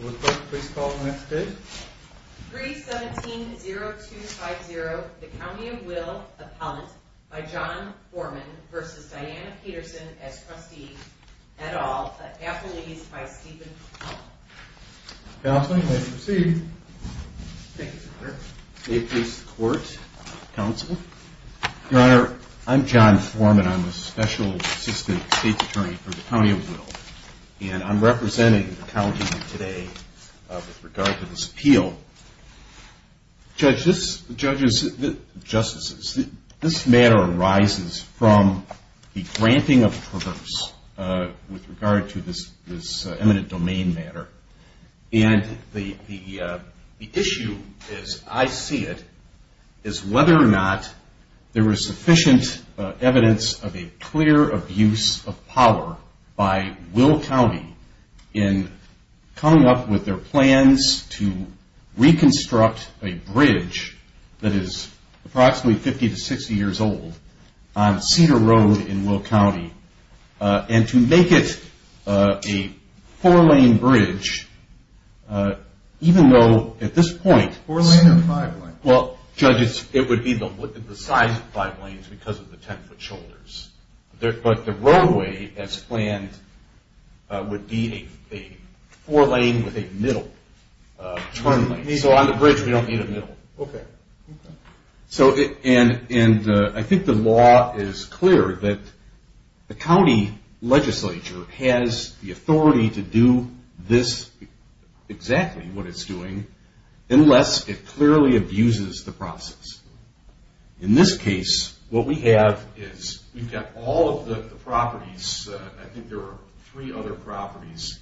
317-0250, the County of Will, appellant, by John Foreman v. Diana Peterson, as trustee, et al., at Apple East by Stephen Hull. Counsel, you may proceed. Thank you, sir. May it please the Court, Counsel. Your Honor, I'm John Foreman. I'm the Special Assistant State Attorney for the County of Will. And I'm representing the County here today with regard to this appeal. Judges, justices, this matter arises from the granting of a purse with regard to this eminent domain matter. And the issue, as I see it, is whether or not there is sufficient evidence of a clear abuse of power by Will County in coming up with their plans to reconstruct a bridge that is approximately 50 to 60 years old on Cedar Road in Will County and to make it a four-lane bridge, even though at this point... Four-lane or five-lane? Well, judges, it would be the size of five lanes because of the 10-foot shoulders. But the roadway, as planned, would be a four-lane with a middle turn lane. So on the bridge, we don't need a middle. Okay. And I think the law is clear that the county legislature has the authority to do this, exactly what it's doing, unless it clearly abuses the process. In this case, what we have is we've got all of the properties. I think there are three other properties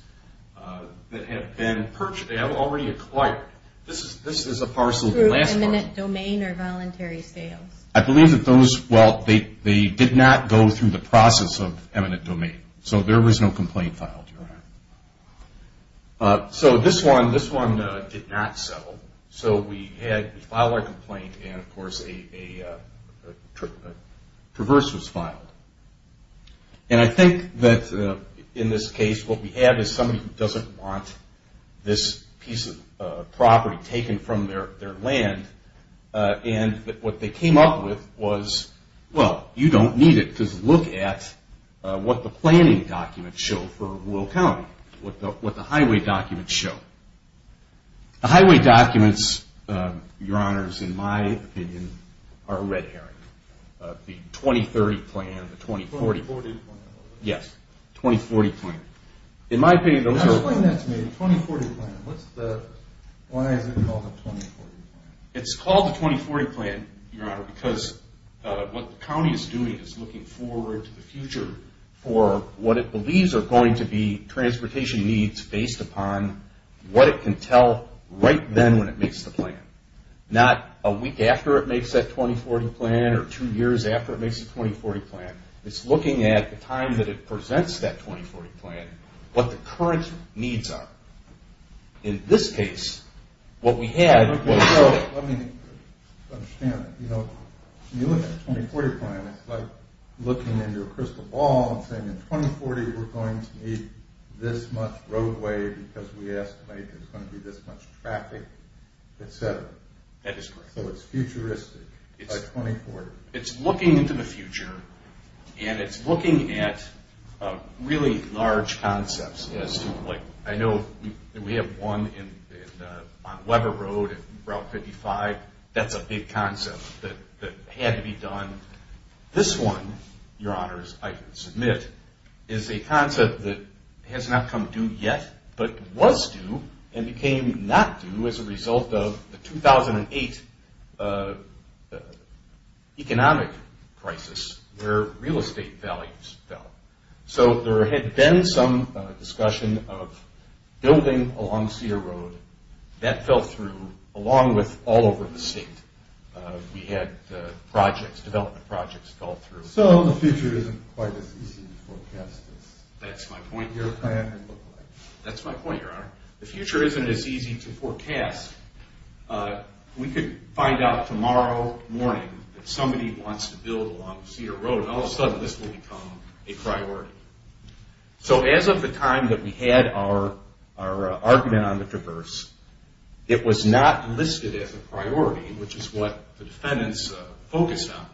that have been purchased. This is a parcel. Through eminent domain or voluntary sales? I believe that those, well, they did not go through the process of eminent domain. So there was no complaint filed, Your Honor. So this one did not settle. So we filed our complaint, and, of course, a traverse was filed. And I think that in this case, what we have is somebody who doesn't want this piece of property taken from their land, and what they came up with was, well, you don't need it because look at what the planning documents show for Will County, what the highway documents show. The highway documents, Your Honors, in my opinion, are a red herring. The 2030 plan, the 2040. The 2040 plan. Yes, 2040 plan. In my opinion, those are. Now explain that to me. The 2040 plan, what's the, why is it called the 2040 plan? It's called the 2040 plan, Your Honor, because what the county is doing is looking forward to the future for what it believes are going to be transportation needs based upon what it can tell right then when it makes the plan, not a week after it makes that 2040 plan or two years after it makes the 2040 plan. It's looking at the time that it presents that 2040 plan, what the current needs are. In this case, what we had was. Let me understand. You know, when you look at the 2040 plan, it's like looking into a crystal ball and saying, in 2040, we're going to need this much roadway because we estimate there's going to be this much traffic, et cetera. That is correct. So it's futuristic by 2040. It's looking into the future, and it's looking at really large concepts. I know we have one on Weber Road at Route 55. That's a big concept that had to be done. This one, Your Honors, I submit, is a concept that has not come due yet but was due and became not due as a result of the 2008 economic crisis where real estate values fell. So there had been some discussion of building along Cedar Road. That fell through along with all over the state. We had development projects go through. So the future isn't quite as easy to forecast. That's my point, Your Honor. That's my point, Your Honor. The future isn't as easy to forecast. We could find out tomorrow morning that somebody wants to build along Cedar Road, and all of a sudden this will become a priority. So as of the time that we had our argument on the traverse, it was not listed as a priority, which is what the defendants focused on,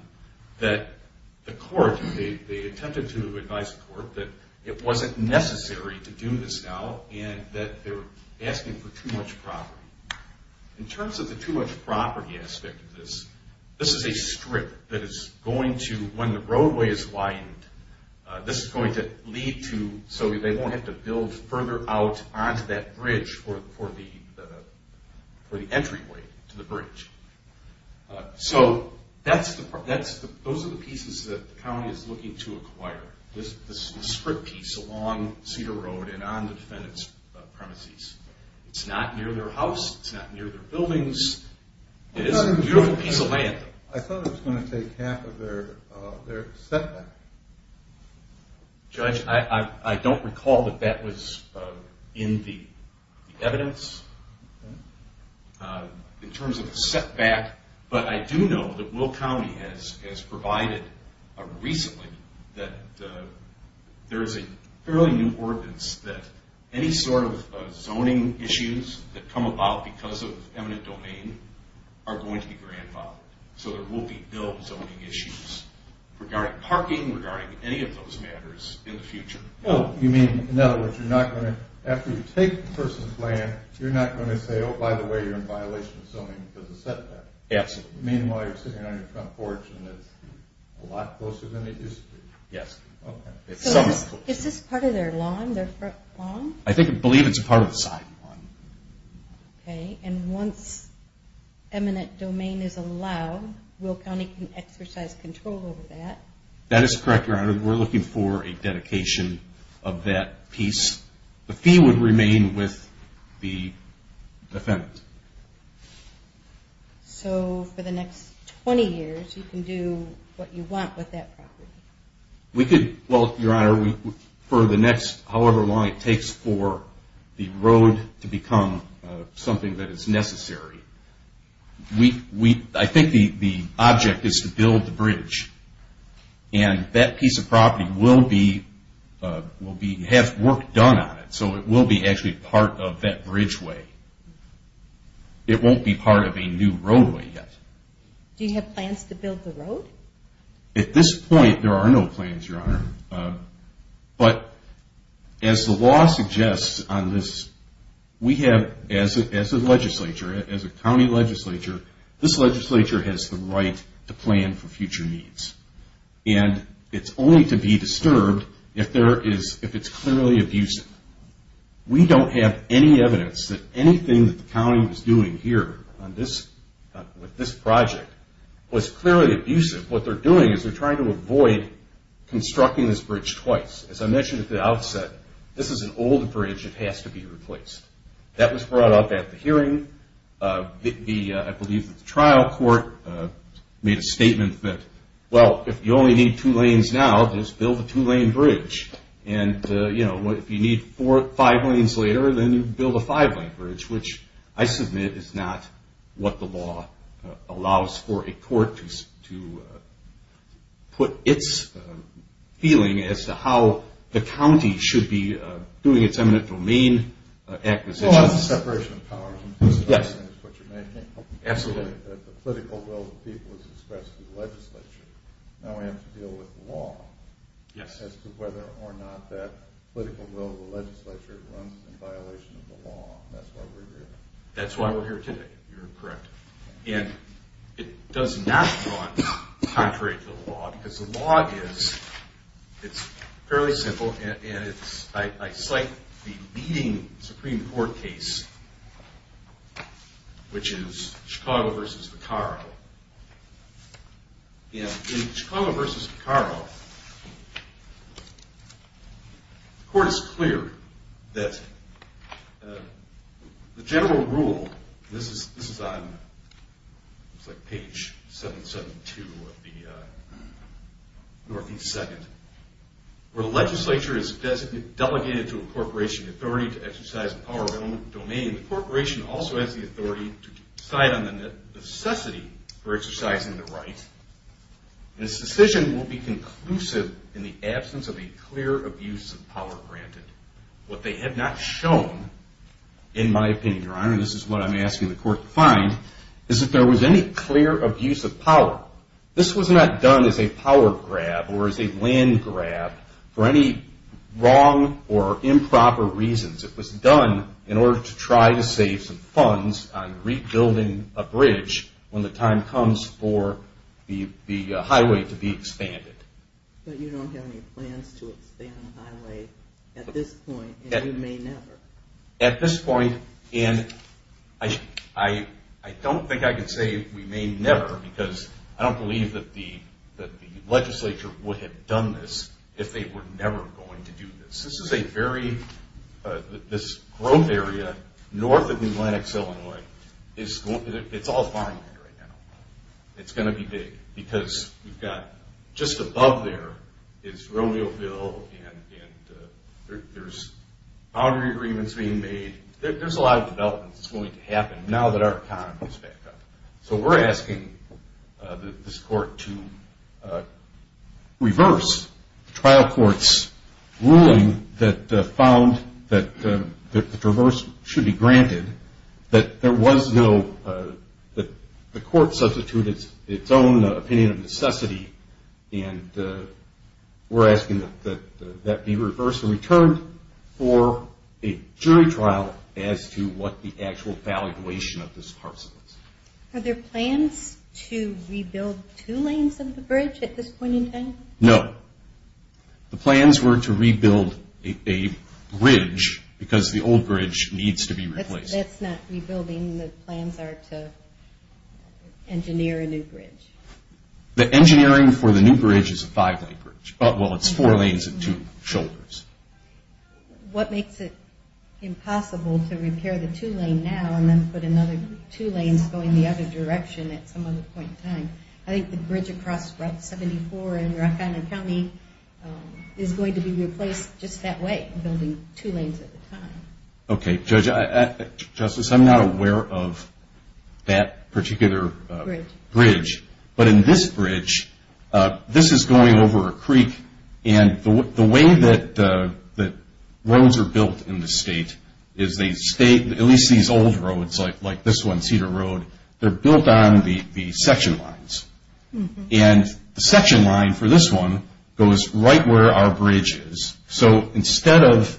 that the court, they attempted to advise the court that it wasn't necessary to do this now and that they were asking for too much property. In terms of the too much property aspect of this, this is a strip that is going to, when the roadway is widened, this is going to lead to, so they won't have to build further out onto that bridge for the entryway to the bridge. So those are the pieces that the county is looking to acquire, this strip piece along Cedar Road and on the defendant's premises. It's not near their house. It's not near their buildings. It is a beautiful piece of land. I thought it was going to take half of their setback. Judge, I don't recall that that was in the evidence in terms of the setback, but I do know that Will County has provided recently that there is a fairly new ordinance that any sort of zoning issues that come about because of eminent domain are going to be grandfathered, so there will be no zoning issues regarding parking, regarding any of those matters in the future. Oh, you mean, in other words, you're not going to, after you take the person's land, you're not going to say, oh, by the way, you're in violation of zoning because of setback. Absolutely. Meanwhile, you're sitting on your front porch and it's a lot closer than it used to be. Yes. So is this part of their lawn, their front lawn? I believe it's part of the side lawn. Okay, and once eminent domain is allowed, Will County can exercise control over that. That is correct, Your Honor. We're looking for a dedication of that piece. The fee would remain with the defendant. So for the next 20 years, you can do what you want with that property. We could, well, Your Honor, for the next however long it takes for the road to become something that is necessary, I think the object is to build the bridge, and that piece of property has work done on it, so it will be actually part of that bridgeway. It won't be part of a new roadway yet. Do you have plans to build the road? At this point, there are no plans, Your Honor. But as the law suggests on this, we have, as a legislature, as a county legislature, this legislature has the right to plan for future needs. And it's only to be disturbed if it's clearly abusive. We don't have any evidence that anything that the county was doing here with this project was clearly abusive. What they're doing is they're trying to avoid constructing this bridge twice. As I mentioned at the outset, this is an old bridge that has to be replaced. That was brought up at the hearing. I believe the trial court made a statement that, well, if you only need two lanes now, just build a two-lane bridge. And if you need five lanes later, then you build a five-lane bridge, which I submit is not what the law allows for a court to put its feeling as to how the county should be doing its eminent domain acquisitions. Well, that's a separation of powers. Yes. That's what you're making. Absolutely. The political will of the people is expressed in the legislature. Now we have to deal with the law. Yes. As to whether or not that political will of the legislature runs in violation of the law. That's why we're here. That's why we're here today. You're correct. And it does not run contrary to the law because the law is fairly simple. And I cite the leading Supreme Court case, which is Chicago v. Vicaro. And in Chicago v. Vicaro, the court is clear that the general rule, and this is on page 772 of the Northeast Second, where the legislature is delegated to a corporation, the authority to exercise the power of their own domain, the corporation also has the authority to decide on the necessity for exercising the right, and its decision will be conclusive in the absence of a clear abuse of power granted. What they have not shown, in my opinion, Your Honor, and this is what I'm asking the court to find, is that there was any clear abuse of power. This was not done as a power grab or as a land grab for any wrong or improper reasons. It was done in order to try to save some funds on rebuilding a bridge when the time comes for the highway to be expanded. But you don't have any plans to expand the highway at this point, and you may never. At this point, and I don't think I could say we may never, because I don't believe that the legislature would have done this if they were never going to do this. This is a very, this growth area north of New Atlantic, Illinois, it's all farmland right now. It's going to be big because we've got just above there is Romeoville, and there's boundary agreements being made. There's a lot of development that's going to happen now that our economy is back up. So we're asking this court to reverse the trial court's ruling that found that the traverse should be granted, that there was no, that the court substituted its own opinion of necessity, and we're asking that that be reversed for a jury trial as to what the actual valuation of this parcel is. Are there plans to rebuild two lanes of the bridge at this point in time? No. The plans were to rebuild a bridge because the old bridge needs to be replaced. That's not rebuilding, the plans are to engineer a new bridge. The engineering for the new bridge is a five-lane bridge. Well, it's four lanes and two shoulders. What makes it impossible to repair the two-lane now and then put another two lanes going the other direction at some other point in time? I think the bridge across Route 74 in Rock Island County is going to be replaced just that way, building two lanes at a time. Okay, Justice, I'm not aware of that particular bridge, but in this bridge, this is going over a creek, and the way that roads are built in the state is they stay, at least these old roads like this one, Cedar Road, they're built on the section lines, and the section line for this one goes right where our bridge is. So instead of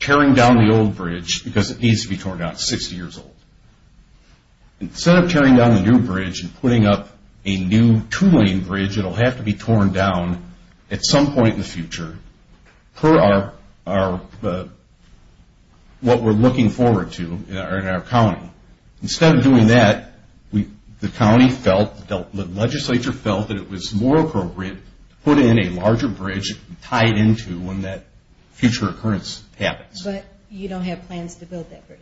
tearing down the old bridge, because it needs to be torn down, it's 60 years old, instead of tearing down the new bridge and putting up a new two-lane bridge, it'll have to be torn down at some point in the future per what we're looking forward to in our county. Instead of doing that, the county felt, the legislature felt, that it was more appropriate to put in a larger bridge and tie it into when that future occurrence happens. But you don't have plans to build that bridge?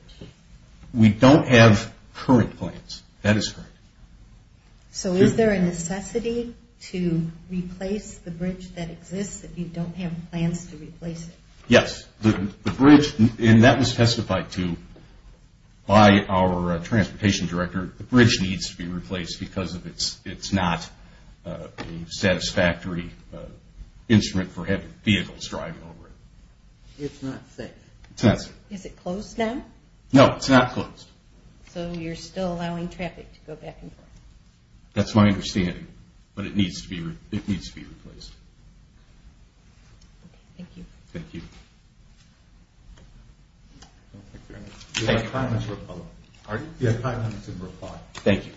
We don't have current plans. That is correct. So is there a necessity to replace the bridge that exists if you don't have plans to replace it? Yes. The bridge, and that was testified to by our transportation director, the bridge needs to be replaced because it's not a satisfactory instrument for heavy vehicles driving over it. It's not safe? It's not safe. Is it closed now? No, it's not closed. So you're still allowing traffic to go back and forth? That's my understanding, but it needs to be replaced. Okay, thank you. Thank you. Thank you. You have five minutes to reply. Pardon? You have five minutes to reply. Thank you.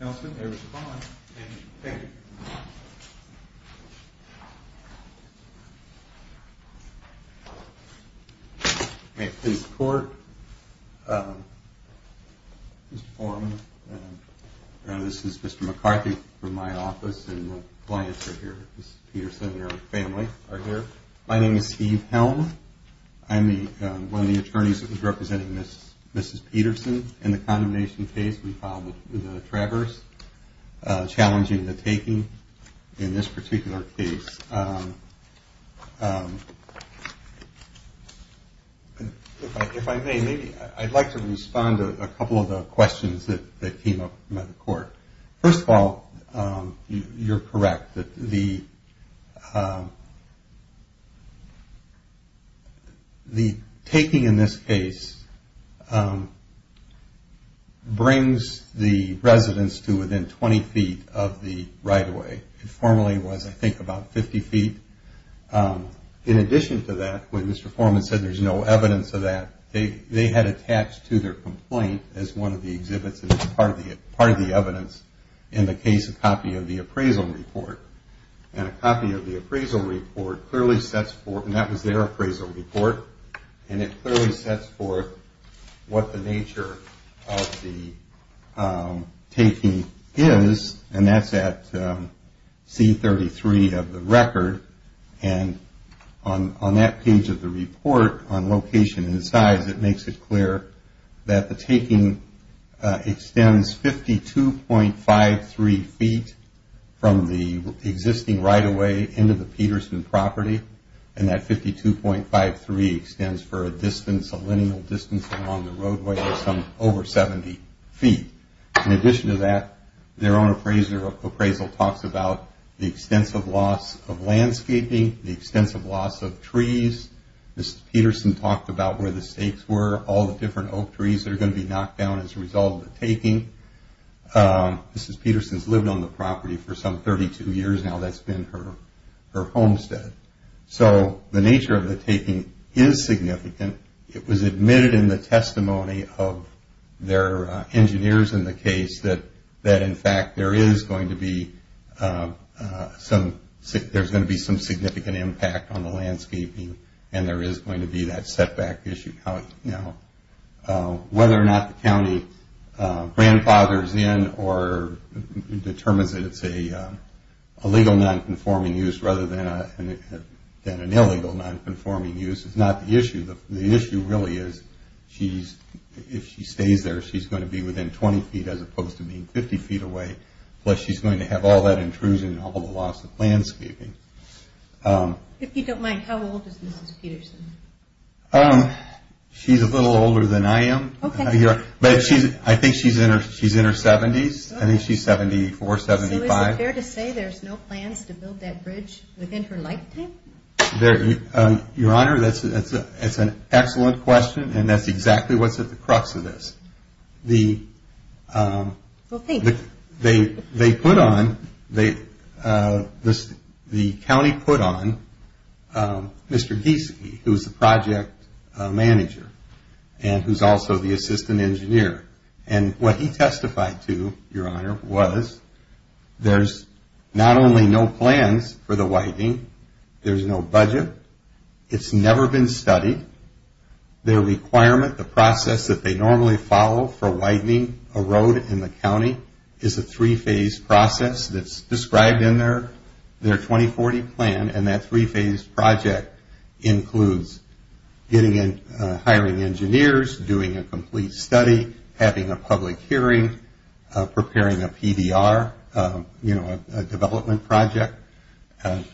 Nelson, may I respond? Thank you. May I please report? Mr. Foreman, this is Mr. McCarthy from my office, and my clients are here, Mrs. Peterson and her family are here. My name is Steve Helm. I'm one of the attorneys that was representing Mrs. Peterson in the condemnation case we filed with the Travers, challenging the taking in this particular case. If I may, maybe I'd like to respond to a couple of the questions that came up from the court. First of all, you're correct. The taking in this case brings the residents to within 20 feet of the right-of-way. It formerly was, I think, about 50 feet. In addition to that, when Mr. Foreman said there's no evidence of that, they had attached to their complaint as one of the exhibits and as part of the evidence in the case a copy of the appraisal report. And a copy of the appraisal report clearly sets forth, and that was their appraisal report, and it clearly sets forth what the nature of the taking is, and that's at C-33 of the record. And on that page of the report, on location and size, it makes it clear that the taking extends 52.53 feet from the existing right-of-way into the Peterson property, and that 52.53 extends for a distance, a lineal distance along the roadway of some over 70 feet. In addition to that, their own appraisal talks about the extensive loss of landscaping, the extensive loss of trees. Mrs. Peterson talked about where the stakes were, all the different oak trees that are going to be knocked down as a result of the taking. Mrs. Peterson's lived on the property for some 32 years now. That's been her homestead. So the nature of the taking is significant. It was admitted in the testimony of their engineers in the case that, in fact, there is going to be some significant impact on the landscaping, and there is going to be that setback issue. Now, whether or not the county grandfathers in or determines that it's a legal nonconforming use rather than an illegal nonconforming use is not the issue. The issue really is if she stays there, she's going to be within 20 feet, as opposed to being 50 feet away, plus she's going to have all that intrusion and all the loss of landscaping. If you don't mind, how old is Mrs. Peterson? She's a little older than I am. But I think she's in her 70s. I think she's 74, 75. So is it fair to say there's no plans to build that bridge within her lifetime? Your Honor, that's an excellent question, and that's exactly what's at the crux of this. The county put on Mr. Giesecke, who's the project manager, and who's also the assistant engineer. And what he testified to, Your Honor, was there's not only no plans for the whitening, there's no budget, it's never been studied, their requirement, the process that they normally follow for whitening a road in the county, is a three-phase process that's described in their 2040 plan. And that three-phase project includes hiring engineers, doing a complete study, having a public hearing, preparing a PBR, you know, a development project.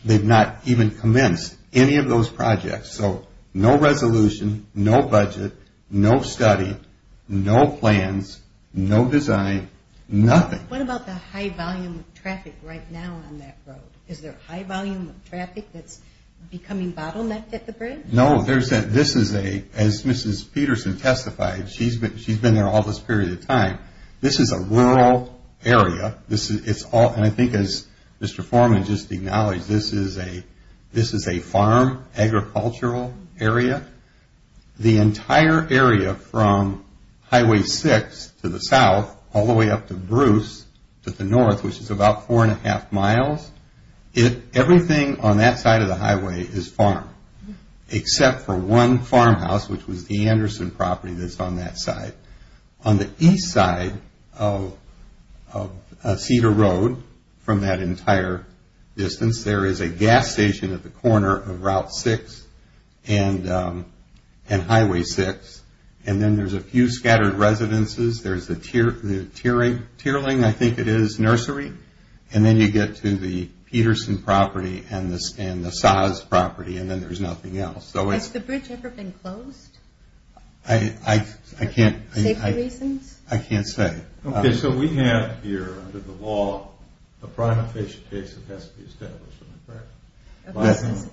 They've not even commenced any of those projects. So no resolution, no budget, no study, no plans, no design, nothing. What about the high volume of traffic right now on that road? Is there a high volume of traffic that's becoming bottlenecked at the bridge? No. This is a, as Mrs. Peterson testified, she's been there all this period of time, this is a rural area. And I think as Mr. Foreman just acknowledged, this is a farm agricultural area. The entire area from Highway 6 to the south all the way up to Bruce to the north, which is about four and a half miles, everything on that side of the highway is farm, except for one farmhouse, which was the Anderson property that's on that side. On the east side of Cedar Road from that entire distance, there is a gas station at the corner of Route 6 and Highway 6. And then there's a few scattered residences. There's the Tierling, I think it is, nursery. And then you get to the Peterson property and the Saaz property, and then there's nothing else. Has the bridge ever been closed? I can't. For safety reasons? I can't say. Okay. So we have here under the law a prima facie case that has to be established, correct? Okay.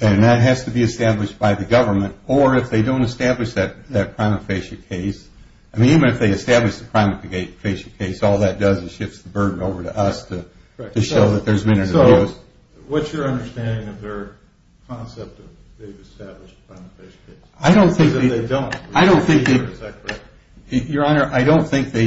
And that has to be established by the government, or if they don't establish that prima facie case, I mean even if they establish the prima facie case, all that does is shifts the burden over to us to show that there's been an abuse. So what's your understanding of their concept of the established prima facie case? I don't think they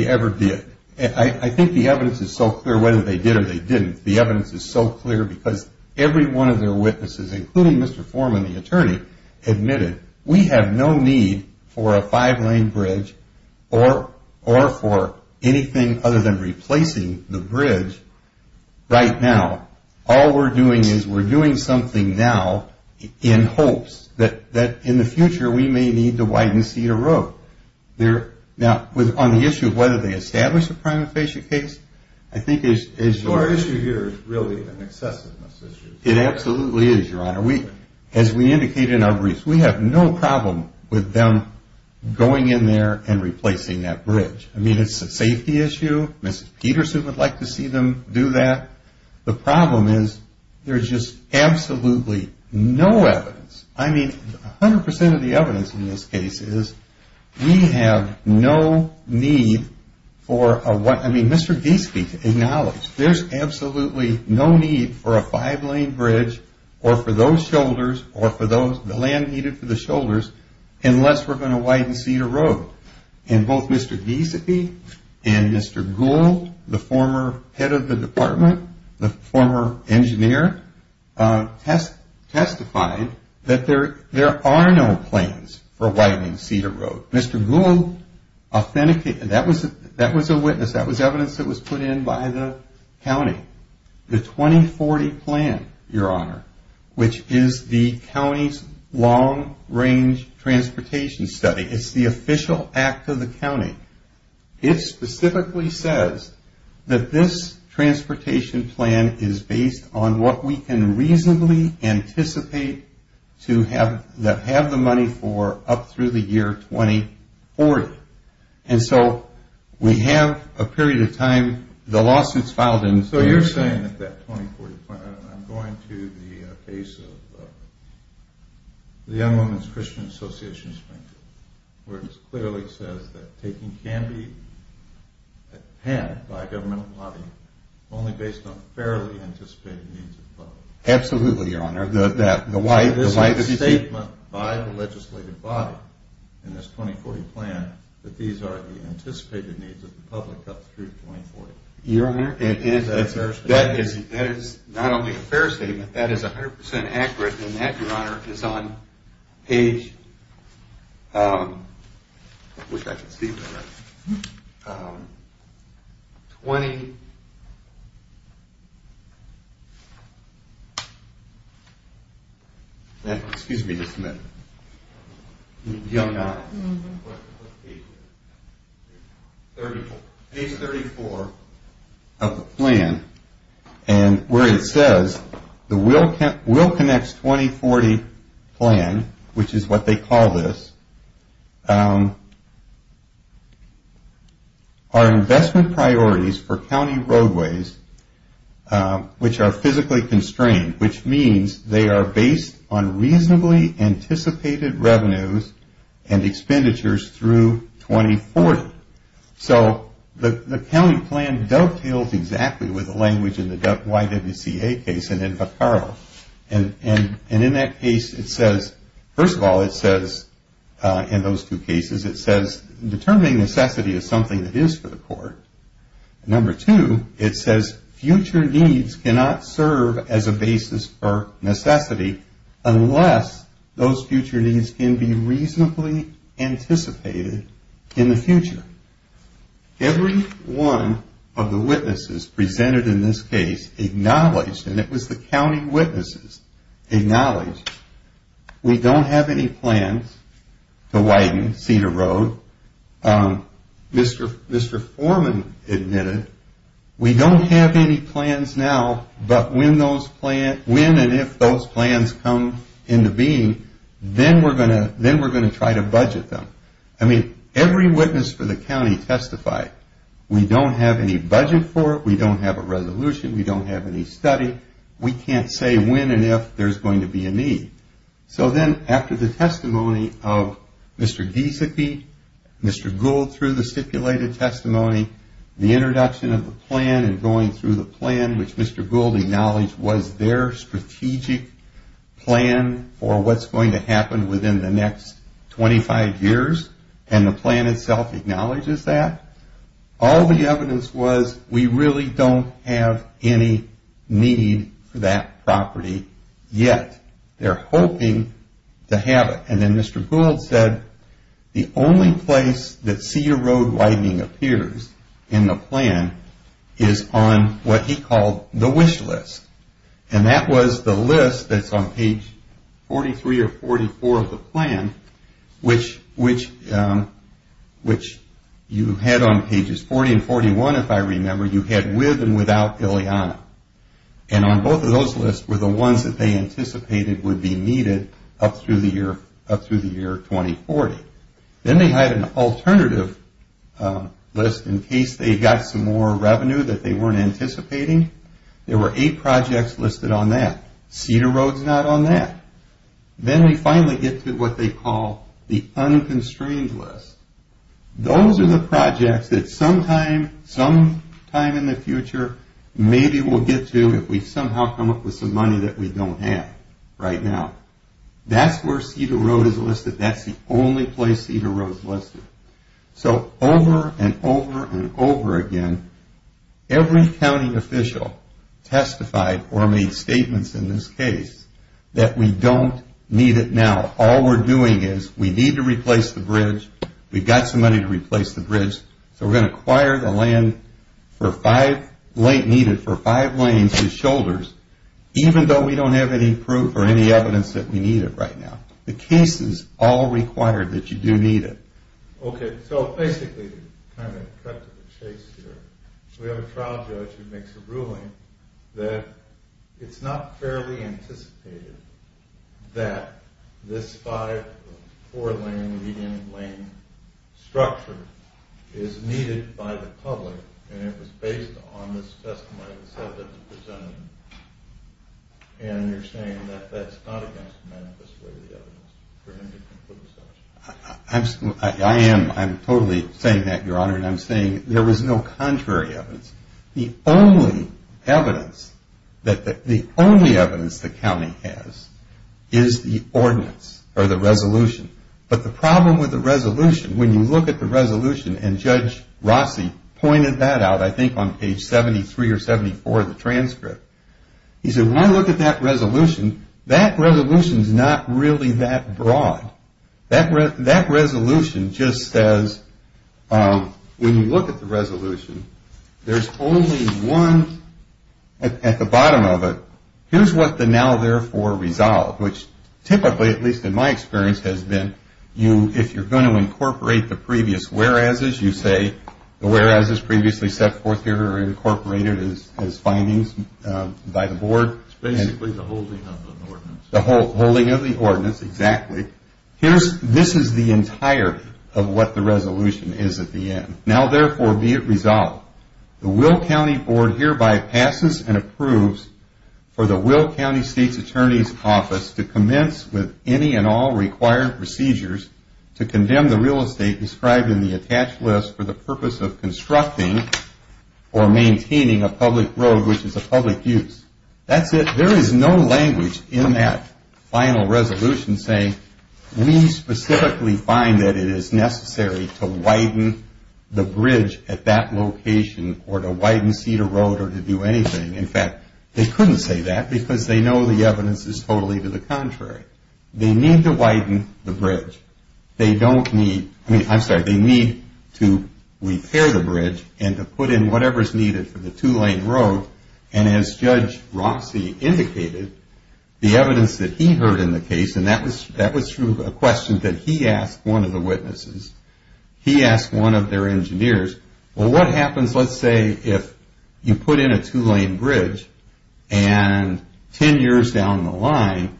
ever did. I think the evidence is so clear whether they did or they didn't. The evidence is so clear because every one of their witnesses, including Mr. Foreman, the attorney, admitted we have no need for a five-lane bridge or for anything other than replacing the bridge right now. All we're doing is we're doing something now in hopes that in the future we may need to widen Cedar Road. Now, on the issue of whether they establish a prima facie case, I think as you're... So our issue here is really an excessiveness issue. It absolutely is, Your Honor. As we indicated in our briefs, we have no problem with them going in there and replacing that bridge. I mean it's a safety issue. Mrs. Peterson would like to see them do that. The problem is there's just absolutely no evidence. I mean 100% of the evidence in this case is we have no need for a... I mean Mr. Giesecke acknowledged there's absolutely no need for a five-lane bridge or for those shoulders or for the land needed for the shoulders unless we're going to widen Cedar Road. And both Mr. Giesecke and Mr. Gould, the former head of the department, the former engineer, testified that there are no plans for widening Cedar Road. Mr. Gould authenticated. That was a witness. That was evidence that was put in by the county. The 2040 plan, Your Honor, which is the county's long-range transportation study, it's the official act of the county. It specifically says that this transportation plan is based on what we can reasonably anticipate to have the money for up through the year 2040. And so we have a period of time. The lawsuit's filed in... I'm going to the case of the Young Women's Christian Association Springfield where it clearly says that taking can be had by a governmental body only based on fairly anticipated needs of the public. Absolutely, Your Honor. This is a statement by the legislative body in this 2040 plan that these are the anticipated needs of the public up through 2040. Your Honor, that is not only a fair statement, that is 100% accurate, and that, Your Honor, is on page... I wish I could see better. 20... Excuse me just a minute. Young... What page is it? Page 34. Page 34 of the plan. And where it says the WillConnect's 2040 plan, which is what they call this, are investment priorities for county roadways which are physically constrained, which means they are based on reasonably anticipated revenues and expenditures through 2040. So the county plan dovetails exactly with the language in the YWCA case and in Patcaro, and in that case it says... First of all, it says in those two cases, Number two, it says... Every one of the witnesses presented in this case acknowledged, and it was the county witnesses, acknowledged, we don't have any plans to widen Cedar Road. Mr. Foreman admitted, we don't have any plans now, but when and if those plans come into being, then we're going to try to budget them. I mean, every witness for the county testified, we don't have any budget for it, we don't have a resolution, we don't have any study, we can't say when and if there's going to be a need. So then after the testimony of Mr. Giesecke, Mr. Gould through the stipulated testimony, the introduction of the plan and going through the plan, which Mr. Gould acknowledged was their strategic plan for what's going to happen within the next 25 years, and the plan itself acknowledges that, all the evidence was we really don't have any need for that property yet. They're hoping to have it. And then Mr. Gould said, the only place that Cedar Road widening appears in the plan is on what he called the wish list. And that was the list that's on page 43 or 44 of the plan, which you had on pages 40 and 41 if I remember, you had with and without Ileana. And on both of those lists were the ones that they anticipated would be needed up through the year 2040. Then they had an alternative list in case they got some more revenue that they weren't anticipating. There were eight projects listed on that. Cedar Road's not on that. Then we finally get to what they call the unconstrained list. Those are the projects that sometime in the future maybe we'll get to if we somehow come up with some money that we don't have right now. That's where Cedar Road is listed. That's the only place Cedar Road's listed. So over and over and over again, every county official testified or made statements in this case that we don't need it now. All we're doing is we need to replace the bridge. We've got some money to replace the bridge. So we're going to acquire the land needed for five lanes and shoulders even though we don't have any proof or any evidence that we need it right now. The case is all required that you do need it. Okay, so basically to kind of cut to the chase here, we have a trial judge who makes a ruling that it's not fairly anticipated that this five or four lane median lane structure is needed by the public and it was based on this testimony that was presented. And you're saying that that's not against the manifest way of the evidence for him to conclude such. I am totally saying that, Your Honor, and I'm saying there was no contrary evidence. The only evidence that the county has is the ordinance or the resolution. But the problem with the resolution, when you look at the resolution and Judge Rossi pointed that out, I think on page 73 or 74 of the transcript, he said when you look at that resolution, that resolution is not really that broad. That resolution just says when you look at the resolution, there's only one at the bottom of it. Here's what the now therefore resolve, which typically, at least in my experience, has been if you're going to incorporate the previous whereas's, you say the whereas's previously set forth here are incorporated as findings by the board. It's basically the holding of the ordinance. The holding of the ordinance, exactly. This is the entirety of what the resolution is at the end. Now therefore be it resolved. The Will County Board hereby passes and approves for the Will County State's Attorney's Office to commence with any and all required procedures to condemn the real estate described in the attached list for the purpose of constructing or maintaining a public road which is a public use. That's it. There is no language in that final resolution saying we specifically find that it is necessary to widen the bridge at that location or to widen Cedar Road or to do anything. In fact, they couldn't say that because they know the evidence is totally to the contrary. They need to widen the bridge. They don't need, I'm sorry, they need to repair the bridge and to put in whatever's needed for the two-lane road. And as Judge Rossi indicated, the evidence that he heard in the case, and that was through a question that he asked one of the witnesses. He asked one of their engineers, well, what happens, let's say, if you put in a two-lane bridge and 10 years down the line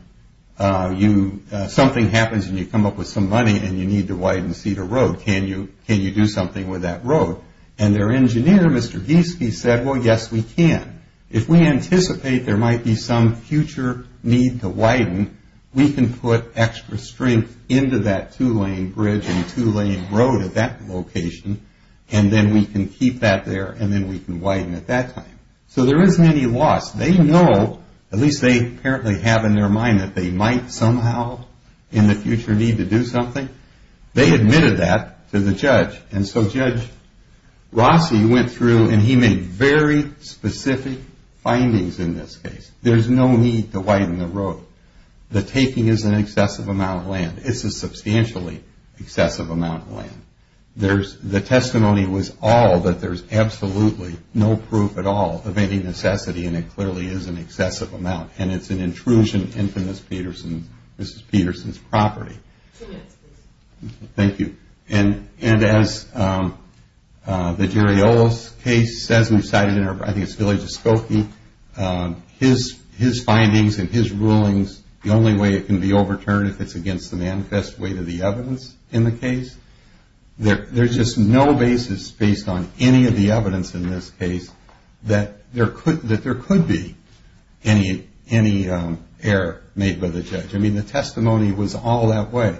something happens and you come up with some money and you need to widen Cedar Road. Can you do something with that road? And their engineer, Mr. Gieske, said, well, yes, we can. If we anticipate there might be some future need to widen, we can put extra strength into that two-lane bridge and two-lane road at that location and then we can keep that there and then we can widen at that time. So there isn't any loss. They know, at least they apparently have in their mind, that they might somehow in the future need to do something. They admitted that to the judge. And so Judge Rossi went through and he made very specific findings in this case. There's no need to widen the road. The taking is an excessive amount of land. It's a substantially excessive amount of land. The testimony was all that there's absolutely no proof at all of any necessity and it clearly is an excessive amount and it's an intrusion into Mrs. Peterson's property. Two minutes, please. Thank you. And as the Giriola's case says, we've cited it in our, I think it's Village of Skokie, his findings and his rulings, the only way it can be overturned if it's against the manifest weight of the evidence in the case, there's just no basis based on any of the evidence in this case that there could be any error made by the judge. I mean, the testimony was all that way.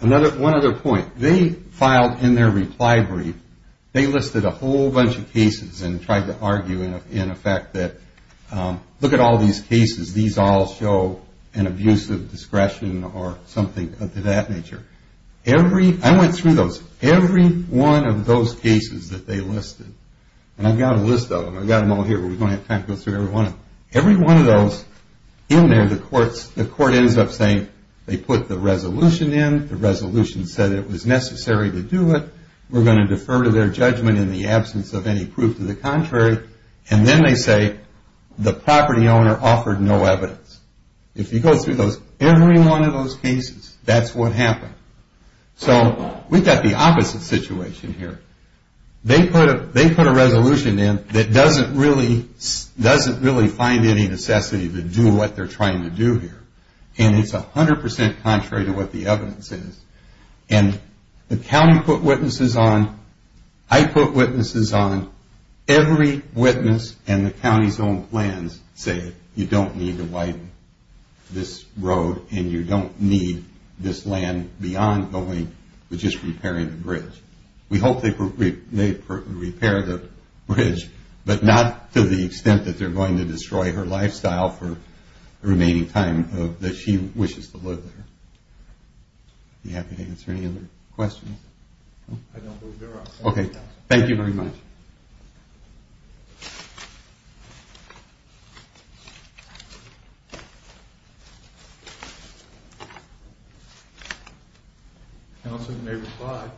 One other point. They filed in their reply brief, they listed a whole bunch of cases and tried to argue in effect that look at all these cases, these all show an abuse of discretion or something of that nature. I went through those. Every one of those cases that they listed, and I've got a list of them, I've got them all here but we don't have time to go through every one of them. Every one of those, in there the court ends up saying they put the resolution in, the resolution said it was necessary to do it, we're going to defer to their judgment in the absence of any proof to the contrary, and then they say the property owner offered no evidence. If you go through every one of those cases, that's what happened. So we've got the opposite situation here. They put a resolution in that doesn't really find any necessity to do what they're trying to do here, and it's 100% contrary to what the evidence is. And the county put witnesses on, I put witnesses on, every witness and the county's own plans say you don't need to widen this road and you don't need this land beyond going with just repairing the bridge. We hope they repair the bridge but not to the extent that they're going to destroy her lifestyle for the remaining time that she wishes to live there. Are you happy to answer any other questions? I don't believe there are. Okay, thank you very much. Thank you. Counsel may reply.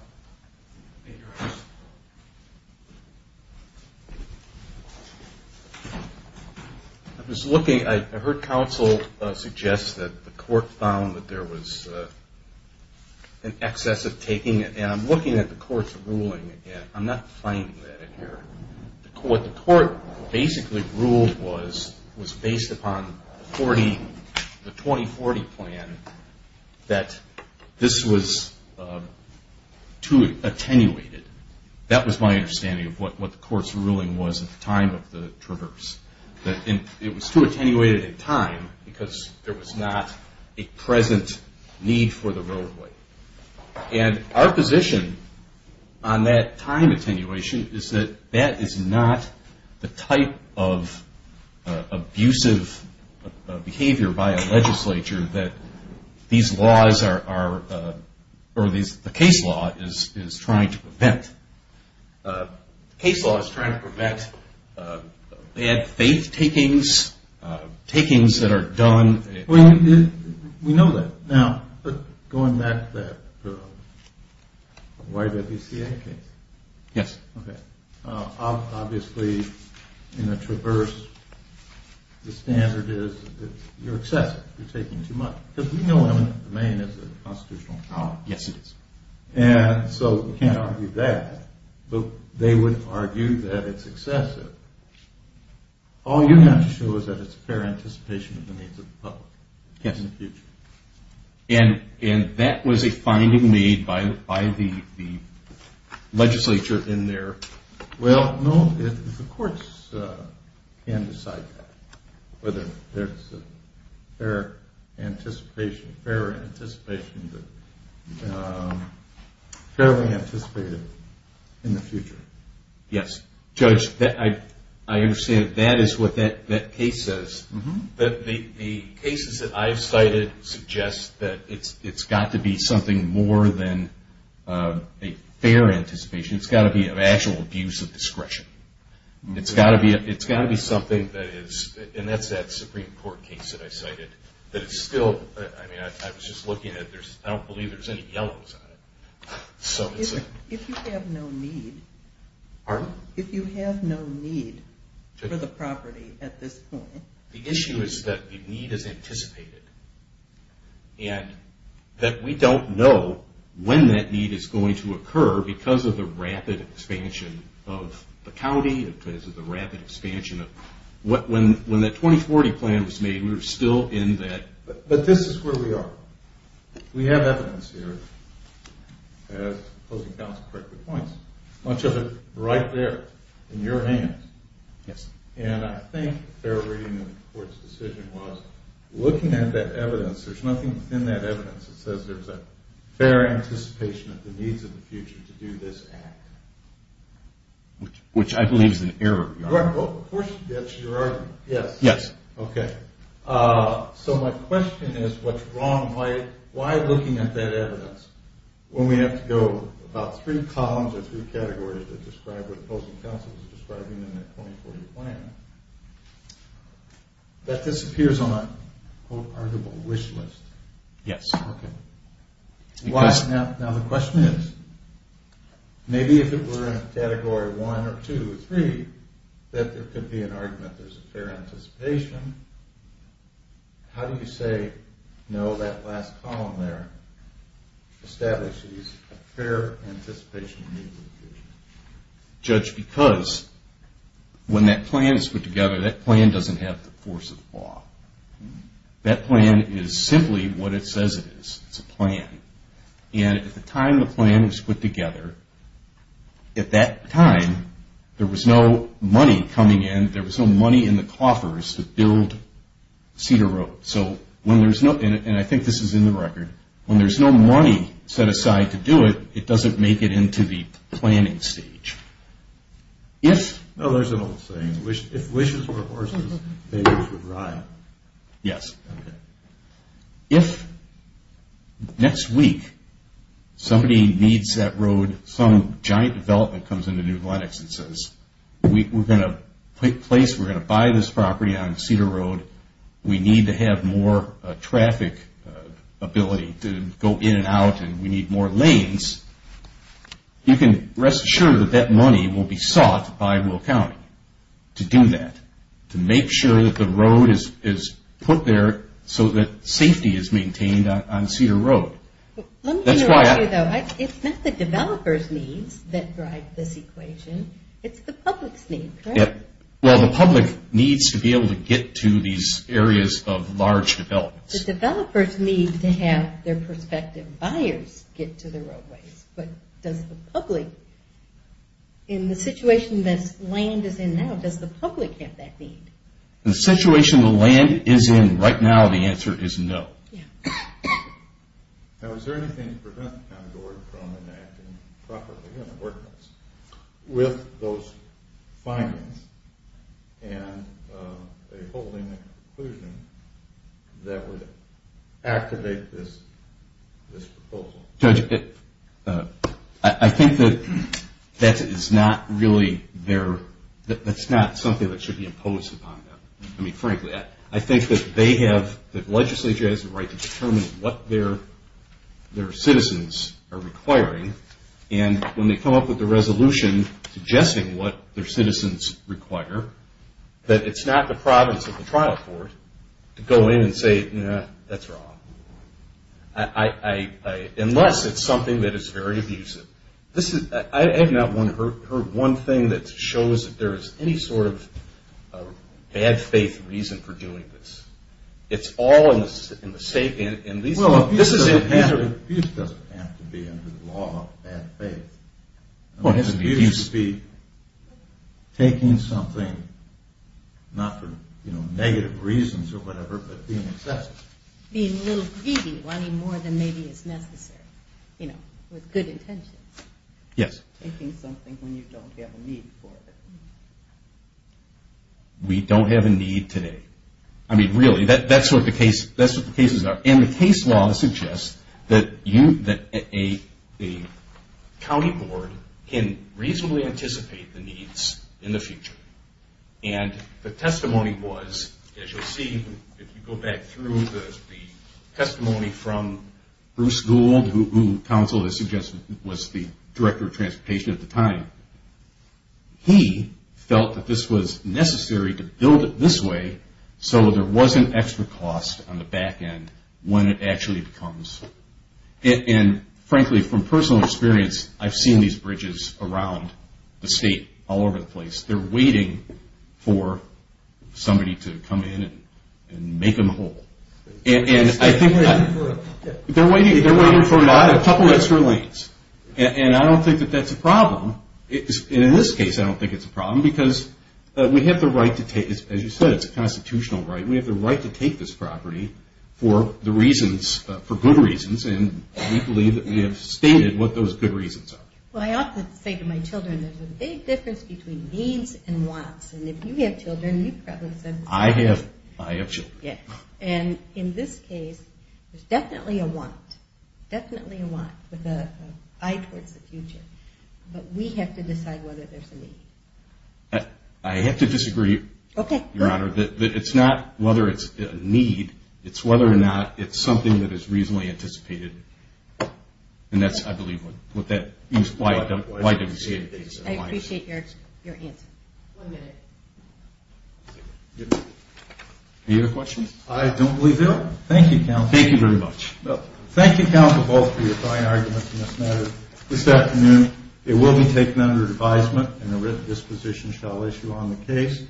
I was looking. I heard counsel suggest that the court found that there was an excess of taking it, and I'm looking at the court's ruling again. I'm not finding that in here. What the court basically ruled was, was based upon the 2040 plan, that this was too attenuated. That was my understanding of what the court's ruling was at the time of the traverse. It was too attenuated in time because there was not a present need for the roadway. Our position on that time attenuation is that that is not the type of abusive behavior by a legislature that the case law is trying to prevent. The case law is trying to prevent bad faith takings, takings that are done. We know that. Now, going back to that YWCA case. Yes. Okay. Obviously, in a traverse, the standard is you're excessive. You're taking too much. Because we know the main is the constitutional power. Yes, it is. And so we can't argue that. But they would argue that it's excessive. All you have to show is that it's fair anticipation of the needs of the public. Yes. In the future. And that was a finding made by the legislature in there. Well, no, the courts can decide that, whether there's a fair anticipation, fair anticipation, fairly anticipated in the future. Yes. Judge, I understand that that is what that case says. The cases that I've cited suggest that it's got to be something more than a fair anticipation. It's got to be an actual abuse of discretion. It's got to be something that is, and that's that Supreme Court case that I cited, that it's still, I mean, I was just looking at it. I don't believe there's any yellows on it. If you have no need. Pardon? If you have no need for the property at this point. The issue is that the need is anticipated. And that we don't know when that need is going to occur because of the rapid expansion of the county, because of the rapid expansion of, when that 2040 plan was made, we were still in that. But this is where we are. We have evidence here, as opposing counsel correctly points, much of it right there in your hands. Yes. And I think fair reading of the court's decision was looking at that evidence, there's nothing in that evidence that says there's a fair anticipation of the needs of the future to do this act. Which I believe is an error. Of course, that's your argument. Yes. Yes. Okay. So my question is, what's wrong? Why looking at that evidence when we have to go about three columns or three categories that describe what opposing counsel is describing in their 2040 plan, that disappears on an arguable wish list? Yes. Okay. Why? Now the question is, maybe if it were in category one or two or three, that there could be an argument that there's a fair anticipation. How do you say, no, that last column there establishes a fair anticipation of the needs of the future? Judge, because when that plan is put together, that plan doesn't have the force of the law. That plan is simply what it says it is. It's a plan. And at the time the plan was put together, at that time, there was no money coming in. There was no money in the coffers to build Cedar Road. So when there's no – and I think this is in the record – when there's no money set aside to do it, it doesn't make it into the planning stage. No, there's an old saying, if wishes were horses, babies would ride. Yes. Okay. If next week somebody needs that road, some giant development comes into New Blenix and says, we're going to buy this property on Cedar Road, we need to have more traffic ability to go in and out, and we need more lanes, you can rest assured that that money will be sought by Will County to do that, to make sure that the road is put there so that safety is maintained on Cedar Road. Let me interrupt you, though. It's not the developers' needs that drive this equation. It's the public's need, correct? Well, the public needs to be able to get to these areas of large developments. The developers need to have their prospective buyers get to the roadways, but does the public, in the situation this land is in now, does the public have that need? The situation the land is in right now, the answer is no. Yeah. Now, is there anything to prevent the County Board from enacting properly an ordinance with those findings and holding a conclusion that would activate this proposal? Well, Judge, I think that that is not really their – that's not something that should be imposed upon them. I mean, frankly, I think that they have – that legislature has the right to determine what their citizens are requiring, and when they come up with a resolution suggesting what their citizens require, that it's not the province or the trial court to go in and say, no, that's wrong, unless it's something that is very abusive. I have not heard one thing that shows that there is any sort of bad faith reason for doing this. It's all in the same – Well, abuse doesn't have to be under the law of bad faith. Well, it has to be abuse. Abuse would be taking something, not for negative reasons or whatever, but being excessive. Being a little greedy, wanting more than maybe is necessary, you know, with good intentions. Yes. Taking something when you don't have a need for it. We don't have a need today. I mean, really, that's what the cases are. And the case law suggests that a county board can reasonably anticipate the needs in the future. And the testimony was, as you'll see, if you go back through the testimony from Bruce Gould, who counsel has suggested was the director of transportation at the time, he felt that this was necessary to build it this way so there wasn't extra cost on the back end when it actually becomes. And, frankly, from personal experience, I've seen these bridges around the state all over the place. They're waiting for somebody to come in and make them whole. And I think they're waiting for a couple extra lanes. And I don't think that that's a problem. And in this case, I don't think it's a problem because we have the right to take, as you said, it's a constitutional right. We have the right to take this property for the reasons, for good reasons, and we believe that we have stated what those good reasons are. Well, I often say to my children, there's a big difference between needs and wants. And if you have children, you've probably said this before. I have children. And in this case, there's definitely a want, definitely a want, with an eye towards the future. But we have to decide whether there's a need. I have to disagree, Your Honor, that it's not whether it's a need, it's whether or not it's something that is reasonably anticipated. And that's, I believe, what that is. Why do we say it is? I appreciate your answer. One minute. Any other questions? I don't believe there are. Thank you, counsel. Thank you very much. Thank you, counsel, both, for your fine arguments in this matter. This afternoon, it will be taken under advisement, and a written disposition shall issue on the case.